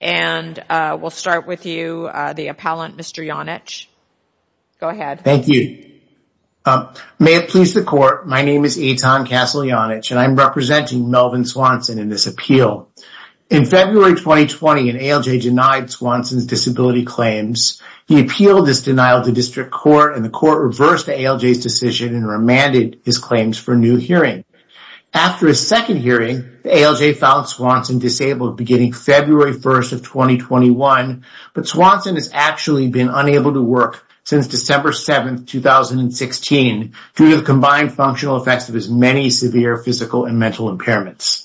and we'll start with you, the appellant, Mr. Janich. Go ahead. Thank you. May it please the court, my name is Eitan Castle Janich and I'm representing Melvin Swanson in this appeal. In February 2020, an ALJ denied Swanson's disability claims. He appealed this denial to district court and the court reversed the ALJ's decision and remanded his claims for new hearing. After a second hearing, the ALJ found Swanson disabled beginning February 1st of 2021, but Swanson has actually been unable to work since December 7th, 2016 due to the combined functional effects of his many severe physical and mental impairments.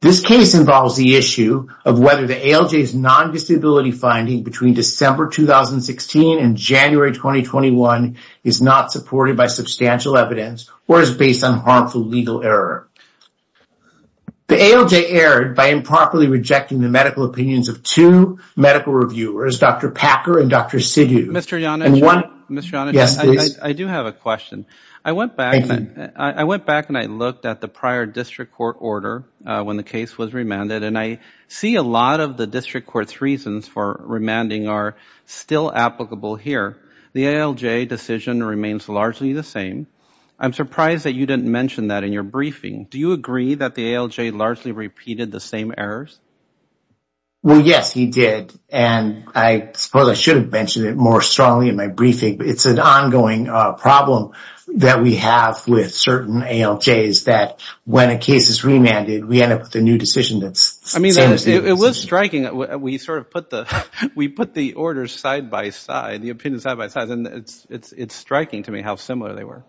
This case involves the issue of whether the ALJ's non-disability finding between December 2016 and January 2021 is not by substantial evidence or is based on harmful legal error. The ALJ erred by improperly rejecting the medical opinions of two medical reviewers, Dr. Packer and Dr. Sidhu. Mr. Janich, I do have a question. I went back and I looked at the prior district court order when the case was remanded and I see a lot of the district court's reasons for remanding are still applicable here. The ALJ decision remains largely the same. I'm surprised that you didn't mention that in your briefing. Do you agree that the ALJ largely repeated the same errors? Well, yes, he did and I suppose I should have mentioned it more strongly in my briefing, but it's an ongoing problem that we have with certain ALJs that when a case is remanded, we end up with a new decision. I mean, it was striking. We sort put the orders side-by-side, the opinions side-by-side and it's striking to me how similar they were.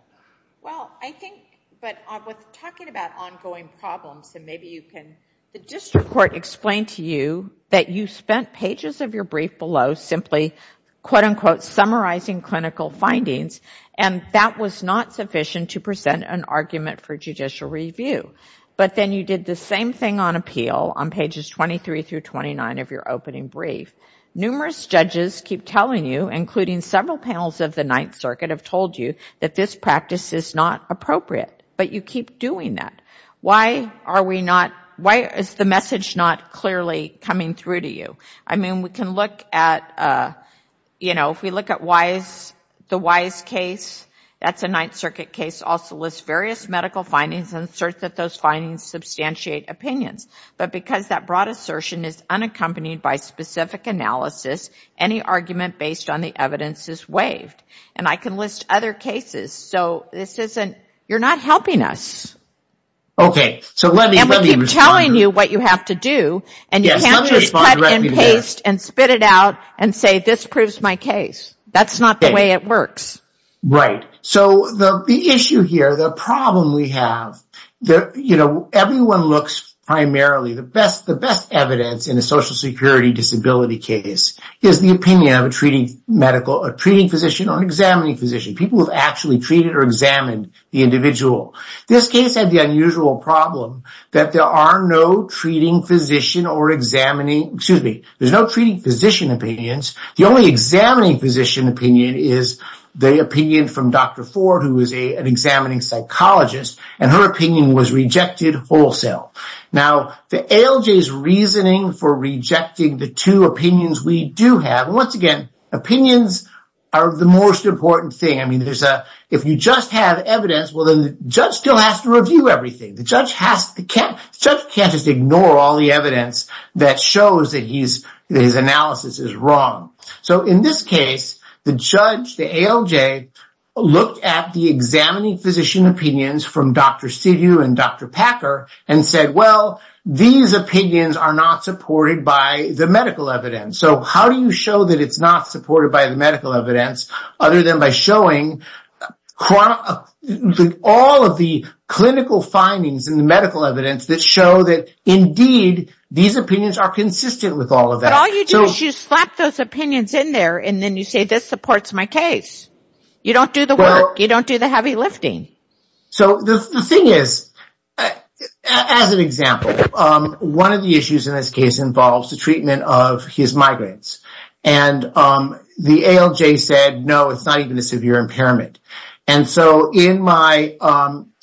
Well, I think, but with talking about ongoing problems and maybe you can, the district court explained to you that you spent pages of your brief below simply summarizing clinical findings and that was not sufficient to present an argument for judicial brief. Numerous judges keep telling you, including several panels of the Ninth Circuit, have told you that this practice is not appropriate, but you keep doing that. Why is the message not clearly coming through to you? I mean, we can look at, you know, if we look at the Wise case, that's a Ninth Circuit case, also lists various medical findings and asserts that those findings substantiate opinions, but because that assertion is unaccompanied by specific analysis, any argument based on the evidence is waived. And I can list other cases, so this isn't, you're not helping us. Okay, so let me keep telling you what you have to do and you can't just cut and paste and spit it out and say this proves my case. That's not the way it works. Right, so the issue here, the problem we have, you know, everyone looks primarily, the best evidence in a social security disability case is the opinion of a treating physician or an examining physician. People have actually treated or examined the individual. This case had the unusual problem that there are no treating physician or examining, excuse me, there's no treating physician opinions, the only examining physician opinion is the opinion from Dr. Ford, who is an examining psychologist, and her opinion was rejected wholesale. Now, the ALJ's reasoning for rejecting the two opinions we do have, and once again, opinions are the most important thing. I mean, there's a, if you just have evidence, well then the judge still has to review everything. The judge has to, the judge can't just ignore all the evidence that shows that his analysis is wrong. So, in this case, the judge, the ALJ, looked at the examining physician opinions from Dr. Sidhu and Dr. Packer and said, well, these opinions are not supported by the medical evidence. So, how do you show that it's not supported by the medical evidence other than by showing all of the clinical findings in the medical evidence that show that, indeed, these opinions are consistent with all of that? But all you do is you slap those opinions in there, and then you say, this supports my case. You don't do the work. You don't do the heavy lifting. So, the thing is, as an example, one of the issues in this case involves the treatment of his migraines, and the ALJ said, no, it's not even a severe impairment. And so, in my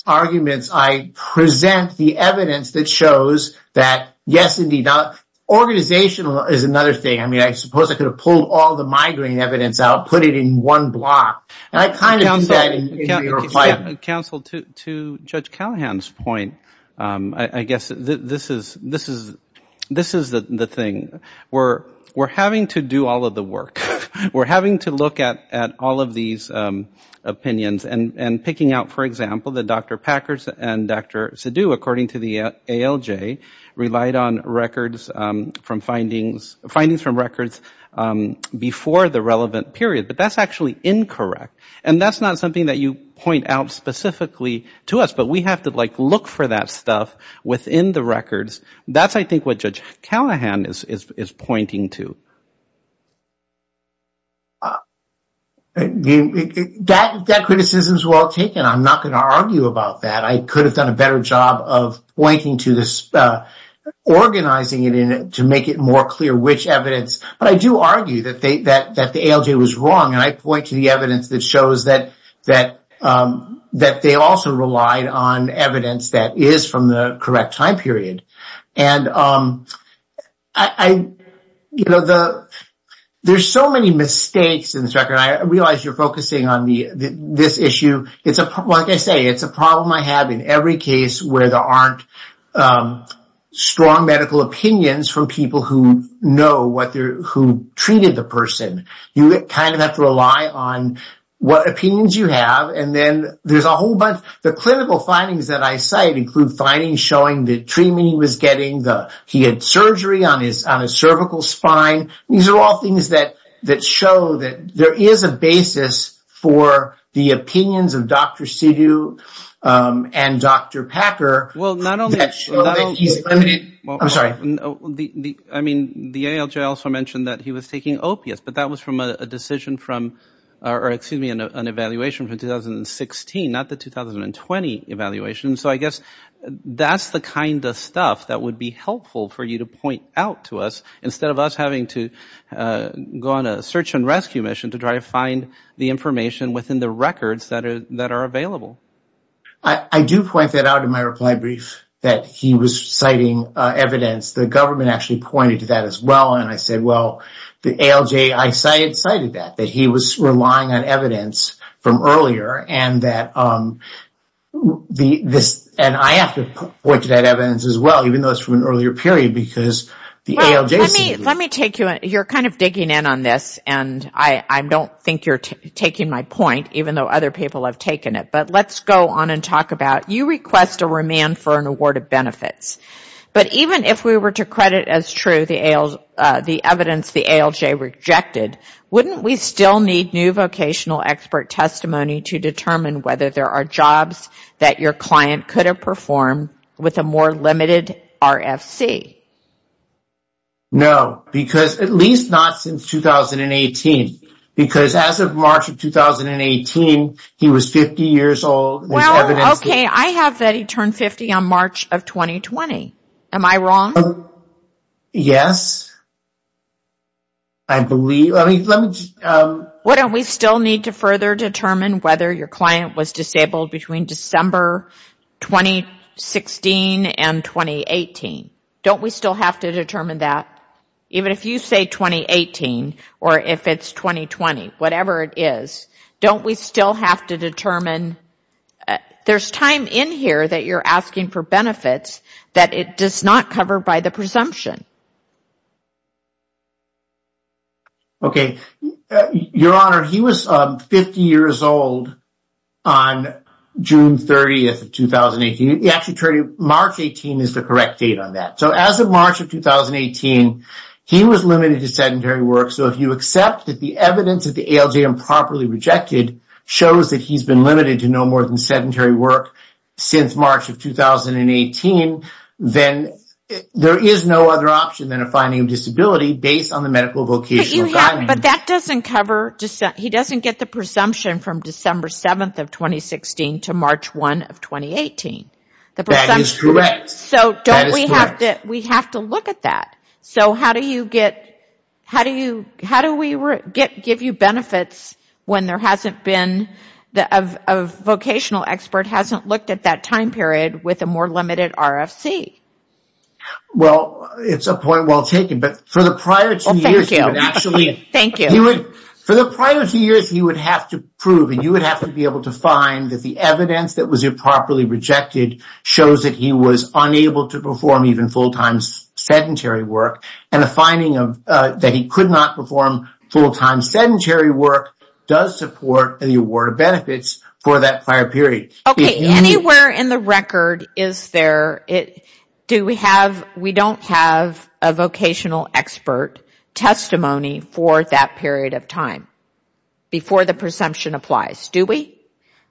arguments, I present the evidence that shows that, yes, indeed. Organizational is another thing. I mean, I suppose I could have pulled all the migraine evidence out, put it in one block, and I kind of did that in your client. Counsel, to Judge Callahan's point, I guess this is the thing. We're having to do all of the work. We're having to look at all of these opinions and picking out, for example, that Dr. Packers and Dr. Sidhu, according to the ALJ, relied on findings from records before the relevant period. But that's actually incorrect. And that's not something that you point out specifically to us. But we have to look for that stuff within the records. That's, I think, what Judge Callahan is pointing to. That criticism is well taken. I'm not going to argue about that. I could have done a better job of pointing to this, organizing it to make it more clear which evidence. But I do argue that the ALJ was wrong, and I point to the evidence that shows that they also relied on evidence that is from the correct time period. There are so many mistakes in this record. I realize you're focusing on this issue. Like I say, it's a problem I have in every case where there aren't strong medical opinions from people who know who treated the person. You kind of have to rely on what opinions you have. The clinical findings that I cite include showing the treatment he was getting. He had surgery on his cervical spine. These are all things that show that there is a basis for the opinions of Dr. Sidhu and Dr. Packer. I mean, the ALJ also mentioned that he was taking opiates, but that was from an evaluation from 2016, not the 2020 evaluation. So I guess that's the kind of stuff that would be helpful for you to point out to us, instead of us having to go on a search and rescue mission to try to find the information within the records that are available. I do point that out in my reply brief, that he was citing evidence. The government actually pointed to that as well. I said, well, the ALJ cited that, that he was relying on evidence from earlier. I have to point to that evidence as well, even though it's from an earlier period. You're kind of digging in on this, and I don't think you're taking my point, even though other people have taken it. But let's go on and talk about, you request a remand for an award of benefits. But even if we were to credit as true the evidence the ALJ rejected, wouldn't we still need new vocational expert testimony to determine whether there are jobs that your client could have performed with a more limited RFC? No, because at least not since 2018. Because as of March of 2018, he was 50 years old. Well, okay. I have that he turned 50 on March of 2020. Am I wrong? Yes, I believe. Wouldn't we still need to further determine whether your client was disabled between December 2016 and 2018? Don't we still have to determine that? Even if you say 2018, or if it's 2020, whatever it is, don't we still have to determine? There's time in here that you're asking for benefits that it does not cover by the presumption. Okay. Your Honor, he was 50 years old on June 30th of 2018. Actually, March 18 is the correct date on that. So as of March of 2018, he was limited to sedentary work. So if you accept that the evidence of the ALJ improperly rejected shows that he's been limited to no more than sedentary work since March of 2018, then there is no other option than a finding of disability based on the medical vocational guidelines. But that doesn't cover, he doesn't get the presumption from December 7th of 2016 to March 1 of 2018. That is correct. So don't we have to, we have to look at that. So how do you get, how do we give you benefits when there hasn't been, a vocational expert hasn't looked at that time period with a more limited RFC? Well, it's a point well taken, but for the prior two years, you would have to prove, and you would have to be able to find that the evidence that was improperly rejected shows that he was unable to perform even full-time sedentary work. And the finding of that he could not perform full-time sedentary work does support the award of benefits for that prior period. Okay, anywhere in the record is there, do we have, we don't have a vocational expert testimony for that period of time before the presumption applies, do we?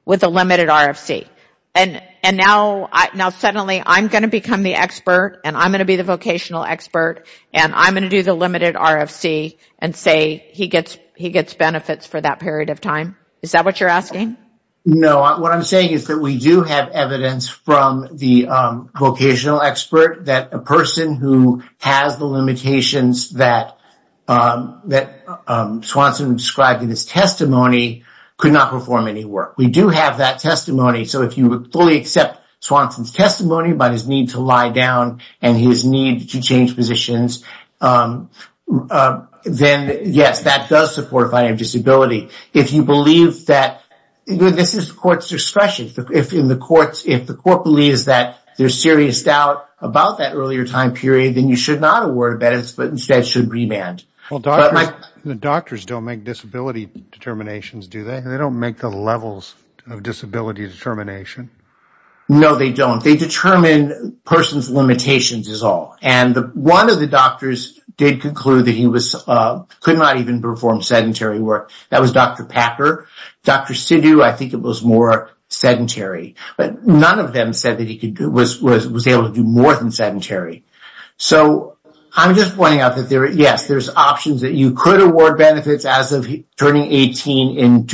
With a limited RFC. And now suddenly I'm going to become the expert, and I'm going to be the expert, and I'm going to do the limited RFC and say he gets benefits for that period of time. Is that what you're asking? No, what I'm saying is that we do have evidence from the vocational expert that a person who has the limitations that Swanson described in his testimony could not perform any work. We do have that testimony. So if you would fully accept Swanson's testimony about his need to lie down and his need to change positions, then yes, that does support finding disability. If you believe that, this is the court's discretion, if the court believes that there's serious doubt about that earlier time period, then you should not award benefits, but instead should remand. The doctors don't make disability determinations, do they? They don't make the levels of disability determination. No, they don't. They determine a person's limitations is all. And one of the doctors did conclude that he could not even perform sedentary work. That was Dr. Packer. Dr. Sidhu, I think it was more sedentary. But none of them said that he was able to do more than sedentary. So I'm just pointing out that, yes, there's options that you could award benefits as of in turning 50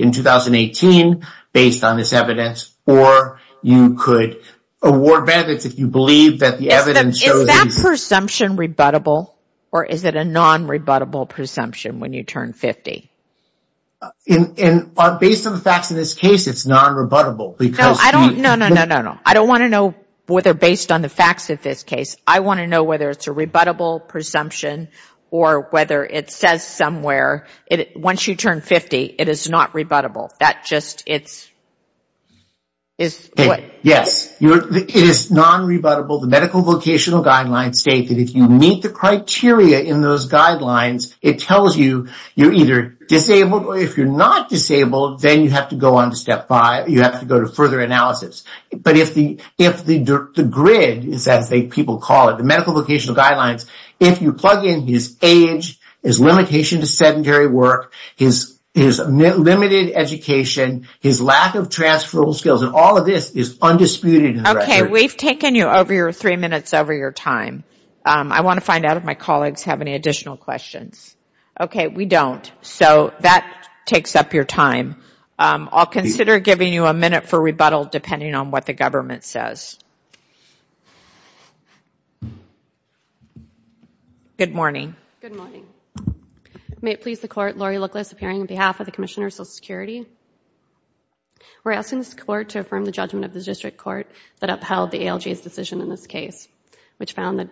in 2018, based on this evidence, or you could award benefits if you believe that the evidence shows that... Is that presumption rebuttable, or is it a non-rebuttable presumption when you turn 50? And based on the facts in this case, it's non-rebuttable. No, no, no, no, no. I don't want to know whether based on the facts of this case, I want to know whether it's a rebuttable presumption or whether it says somewhere, once you turn 50, it is not rebuttable. Yes, it is non-rebuttable. The medical vocational guidelines state that if you meet the criteria in those guidelines, it tells you you're either disabled or if you're not disabled, then you have to go on to step five. You have to go to further analysis. But if the grid is as people call it, the medical vocational guidelines, if you plug in his age, his limitation to sedentary work, his limited education, his lack of transferable skills, and all of this is undisputed. Okay, we've taken you over your three minutes over your time. I want to find out if my colleagues have any additional questions. Okay, we don't. So that takes up your time. I'll consider giving you a minute for rebuttal depending on what the government says. Good morning. Good morning. May it please the Court, Lori Looklis appearing on behalf of the Commissioner of Social Security. We're asking this Court to affirm the judgment of the District Court that upheld the ALJ's decision in this case, which found that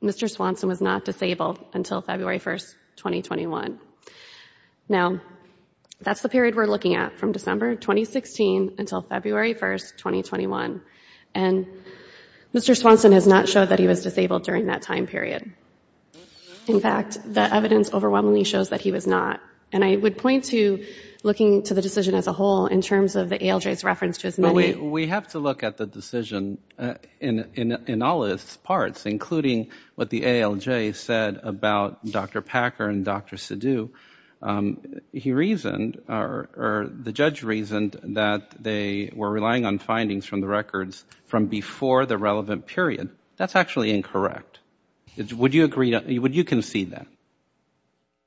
Mr. Swanson was not disabled until February 1st, 2021. Now, that's the period we're looking at from December 2016 until February 1st, 2021. And Mr. Swanson has not showed that he was disabled during that time period. In fact, the evidence overwhelmingly shows that he was not. And I would point to looking to the decision as a whole in terms of the ALJ's reference to his money. We have to look at the decision in all its parts, including what the ALJ said about Dr. Packer and Dr. Sidhu. The judge reasoned that they were relying on findings from the records from before the relevant period. That's actually incorrect. Would you concede that?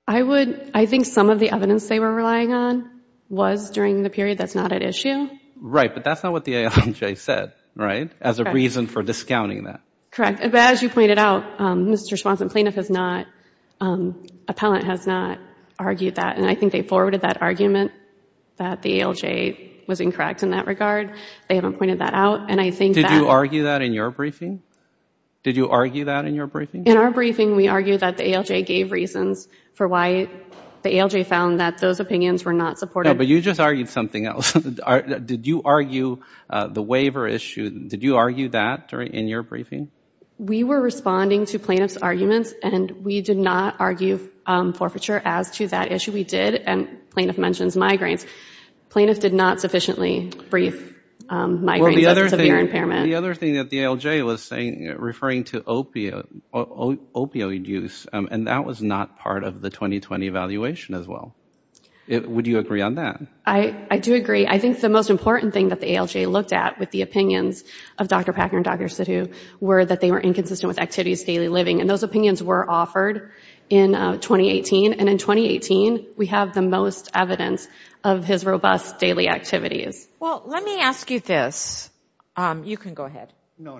I think some of the evidence they were relying on was during the period that's not at issue. Right. But that's not what the ALJ said, right, as a reason for discounting that. Correct. But as you pointed out, Mr. Swanson, plaintiff has not, appellant has not argued that. And I think they forwarded that argument that the ALJ was incorrect in that regard. They haven't pointed that out. And I think that Did you argue that in your briefing? Did you argue that in your briefing? In our briefing, we argued that the ALJ gave reasons for why the ALJ found that those opinions were not supported. No, but you just argued something else. Did you argue the waiver issue? Did you argue that in your briefing? We were responding to plaintiff's arguments, and we did not argue forfeiture as to that issue. We did, and plaintiff mentions migraines. Plaintiff did not sufficiently brief migraines of severe impairment. The other thing that the ALJ was saying, referring to opioid use, and that was not part of the 2020 evaluation as well. Would you agree on that? I do agree. I think the most important thing that the ALJ looked at with the opinions of Dr. Packner and Dr. Sittu were that they were inconsistent with activities daily living. And those opinions were offered in 2018. And in 2018, we have the most evidence of his robust daily activities. Well, let me ask you this. You can go ahead. No,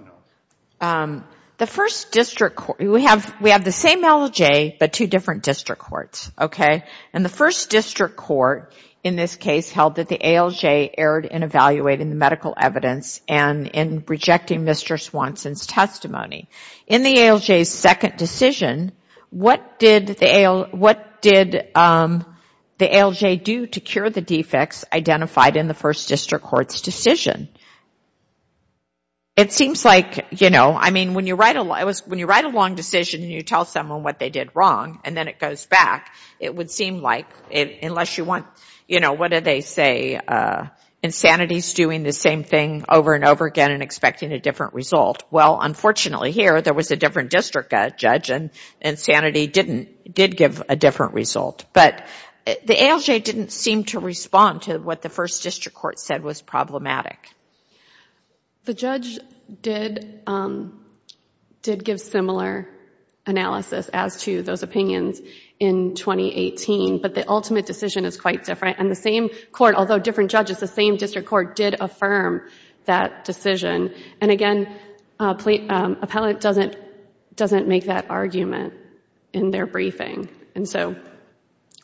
no. The first district court, we have the same ALJ, but two different district courts, okay? And the first district court in this case held that the ALJ erred in evaluating the medical evidence and in rejecting Mr. Swanson's testimony. In the ALJ's second decision, what did the ALJ do to cure the defects identified in the first district court's decision? It seems like, you know, I mean, when you write a long decision and you tell someone what they did wrong, and then it goes back, it would seem like, unless you want, you know, what did they say? Insanity's doing the same thing over and over again and expecting a different result. Well, unfortunately here, there was a different district judge and insanity did give a different result. But the ALJ didn't seem to respond to what the first district court said was problematic. The judge did give similar analysis as to those opinions in 2018, but the ultimate decision is quite different. And the same court, although different judges, the same district court did affirm that decision. And again, appellate doesn't make that argument in their briefing. And so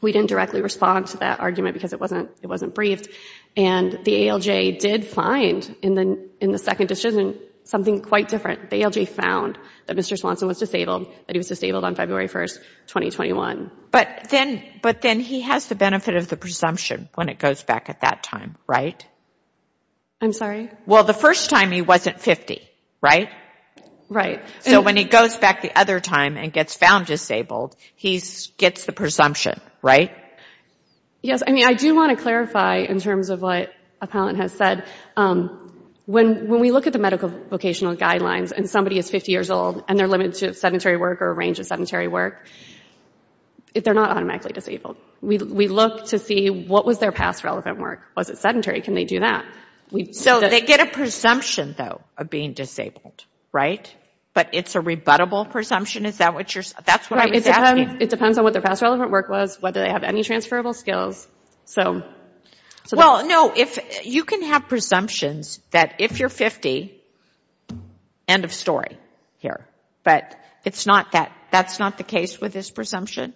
we didn't directly respond to that argument because it wasn't briefed. And the ALJ did find in the second decision, something quite different. The ALJ found that Mr. Swanson was disabled, that he was disabled on February 1st, 2021. But then he has the benefit of the presumption when it goes back at that time, right? I'm sorry? Well, the first time he wasn't 50, right? Right. So when he goes back the other time and gets found disabled, he gets the presumption, right? Yes. I mean, I do want to clarify in terms of what appellant has said. When we look at the medical vocational guidelines and somebody is 50 years old and they're limited to sedentary work or a range of sedentary work, they're not automatically disabled. We look to see what was their past relevant work. Was it sedentary? Can they do that? So they get a presumption though of being disabled, right? But it's a rebuttable presumption. Is that what you're saying? That's whether they have any transferable skills. Well, no. You can have presumptions that if you're 50, end of story here. But that's not the case with this presumption?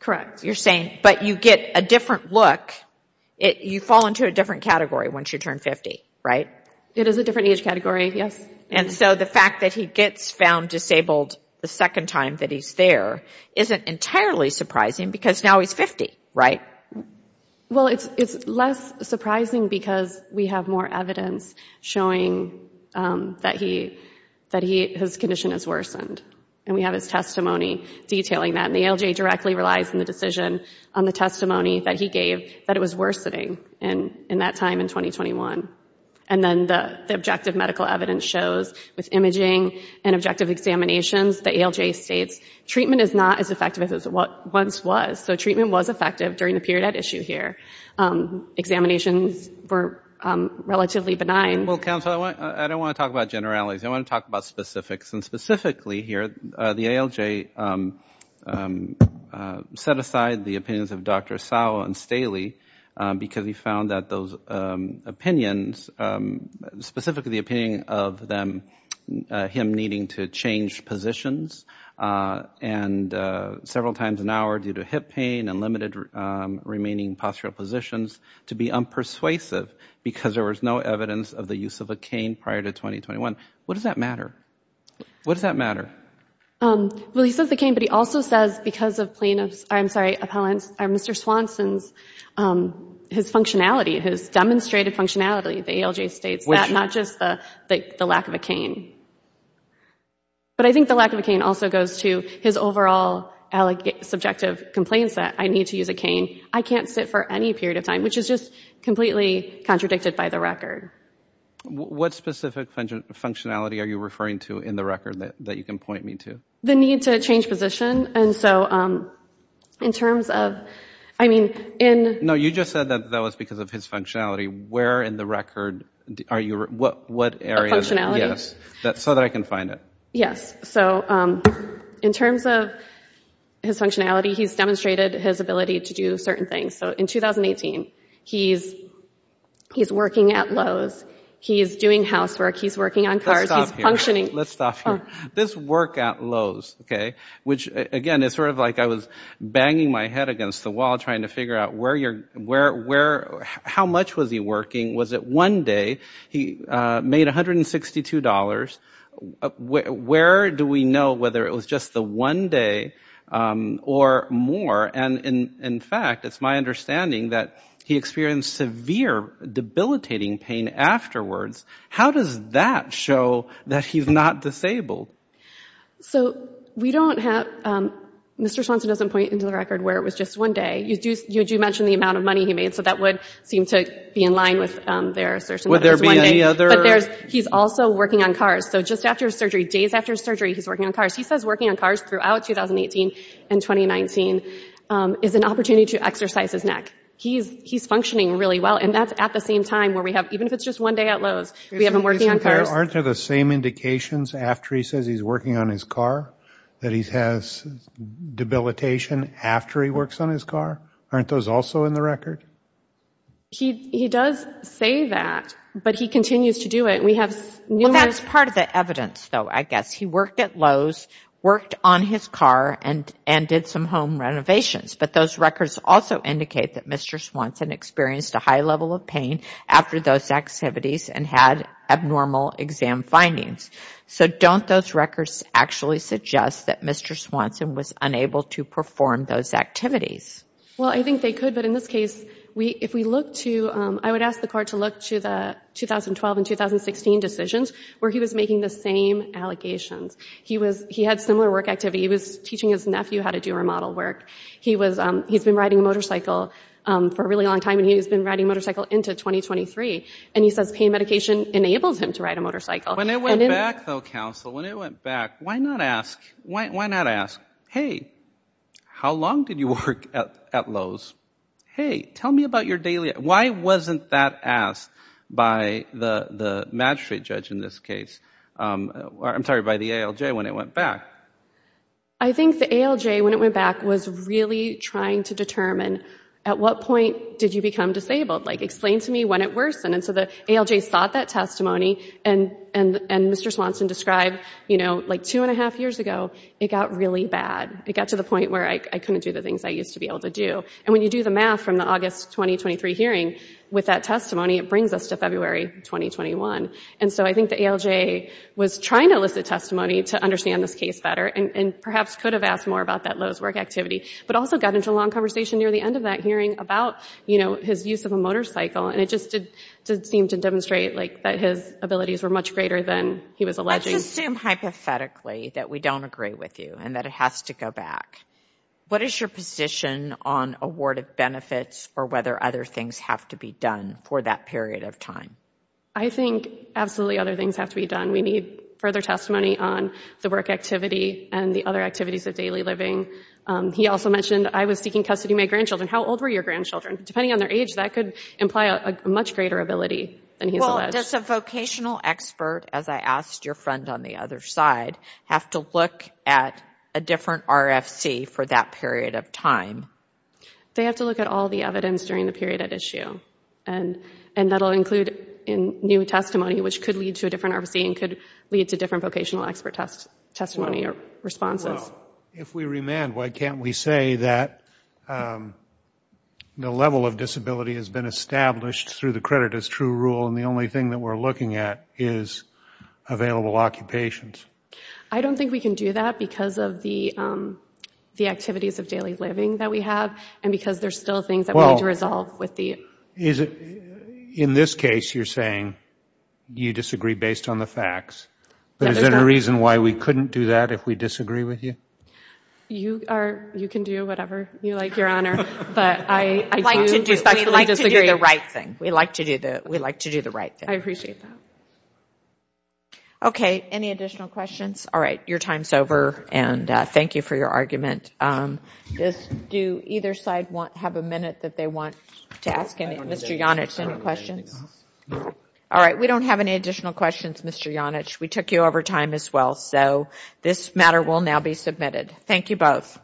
Correct. You're saying, but you get a different look. You fall into a different category once you turn 50, right? It is a different age category, yes. And so the fact that he gets found disabled the second time that he's there isn't entirely surprising because now he's 50, right? Well, it's less surprising because we have more evidence showing that his condition has worsened. And we have his testimony detailing that. And the ALJ directly relies on the decision on the testimony that he gave that it was worsening in that time in 2021. And then the objective medical evidence shows with imaging and objective examinations, the ALJ states, treatment is not as effective as it once was. So treatment was effective during the period at issue here. Examinations were relatively benign. Well, counsel, I don't want to talk about generalities. I want to talk about specifics. And specifically here, the ALJ set aside the Dr. Asawa and Staley because he found that those opinions, specifically the opinion of him needing to change positions several times an hour due to hip pain and limited remaining postural positions to be unpersuasive because there was no evidence of the use of a cane prior to 2021. What does that matter? What does that matter? Um, well, he says the cane, but he also says because of plaintiffs, I'm sorry, appellants, Mr. Swanson's, his functionality, his demonstrated functionality, the ALJ states that, not just the lack of a cane. But I think the lack of a cane also goes to his overall subjective complaints that I need to use a cane. I can't sit for any period of time, which is just completely contradicted by the record. What specific functionality are you referring to in the record that you can point me to? The need to change position. And so, um, in terms of, I mean, in. No, you just said that that was because of his functionality. Where in the record are you, what, what area. Yes. So that I can find it. Yes. So, um, in terms of his functionality, he's demonstrated his ability to do certain things. So in 2018, he's, he's working at Lowe's, he's doing housework, he's working on cars, he's functioning. Let's stop here. This work at Lowe's. Okay. Which again, it's sort of like I was banging my head against the wall, trying to figure out where you're, where, where, how much was he working? Was it one day he made $162. Where do we know whether it was just the one day, um, or more? And in, in fact, it's my understanding that he experienced severe debilitating pain afterwards. How does that show that he's not disabled? So we don't have, um, Mr. Swanson doesn't point into the record where it was just one day. You do, you do mention the amount of money he made. So that would seem to be in line with their assertion that it was one day. Would there be any other? But there's, he's also working on cars. So just after surgery, days after surgery, he's working on cars. He says working on cars throughout 2018 and 2019, um, is an opportunity to exercise his neck. He's, he's functioning really well. And that's at the same time where we have, even if it's just one day at Lowe's, we have him working on cars. Aren't there the same indications after he says he's working on his car that he has debilitation after he works on his car? Aren't those also in the record? He, he does say that, but he continues to do it. And we have numerous... That's part of the evidence though, I guess. He worked at Lowe's, worked on his car and, and did some home renovations. But those records also indicate that Mr. Swanson experienced a high level of pain after those activities and had abnormal exam findings. So don't those records actually suggest that Mr. Swanson was unable to perform those activities? Well, I think they could, but in this case, we, if we look to, um, I would ask the court to look the 2012 and 2016 decisions where he was making the same allegations. He was, he had similar work activity. He was teaching his nephew how to do remodel work. He was, um, he's been riding a motorcycle, um, for a really long time and he has been riding a motorcycle into 2023. And he says pain medication enables him to ride a motorcycle. When it went back though, counsel, when it went back, why not ask, why, why not ask, hey, how long did you work at, at Lowe's? Hey, tell me about your daily, why wasn't that asked by the, the magistrate judge in this case? Um, I'm sorry, by the ALJ when it went back? I think the ALJ when it went back was really trying to determine at what point did you become disabled? Like explain to me when it worsened. And so the ALJ sought that testimony and, and, and Mr. Swanson described, you know, like two and a half years ago, it got really bad. It got to the point where I couldn't do the things I used to be able to do. And when you do the math from the August, 2023 hearing with that testimony, it brings us to February, 2021. And so I think the ALJ was trying to elicit testimony to understand this case better and perhaps could have asked more about that Lowe's work activity, but also got into a long conversation near the end of that hearing about, you know, his use of a motorcycle. And it just did seem to demonstrate that his abilities were much greater than he was alleging. Let's just assume hypothetically that we don't agree with you and that it has to go back. What is your position on award of benefits or whether other things have to be done for that period of time? I think absolutely other things have to be done. We need further testimony on the work activity and the other activities of daily living. He also mentioned I was seeking custody of my grandchildren. How old were your grandchildren? Depending on their age, that could imply a much greater ability than he's alleged. Does a vocational expert, as I asked your friend on the other side, have to look at a different RFC for that period of time? They have to look at all the evidence during the period at issue. And that'll include new testimony, which could lead to a different RFC and could lead to different vocational expert testimony or responses. Well, if we remand, why can't we say that the level of disability has been established through the credit as true rule and the only thing that we're looking at is available occupations? I don't think we can do that because of the activities of daily living that we have and because there are still things that we need to resolve. In this case, you're saying you disagree based on the facts. Is there a reason why we couldn't do that if we disagree with you? You can do whatever you want. We like to do the right thing. We like to do the right thing. I appreciate that. Okay. Any additional questions? All right. Your time's over and thank you for your argument. Do either side have a minute that they want to ask Mr. Janich any questions? All right. We don't have any additional questions, Mr. Janich. We took you over time as well. So this matter will now be submitted. Thank you both.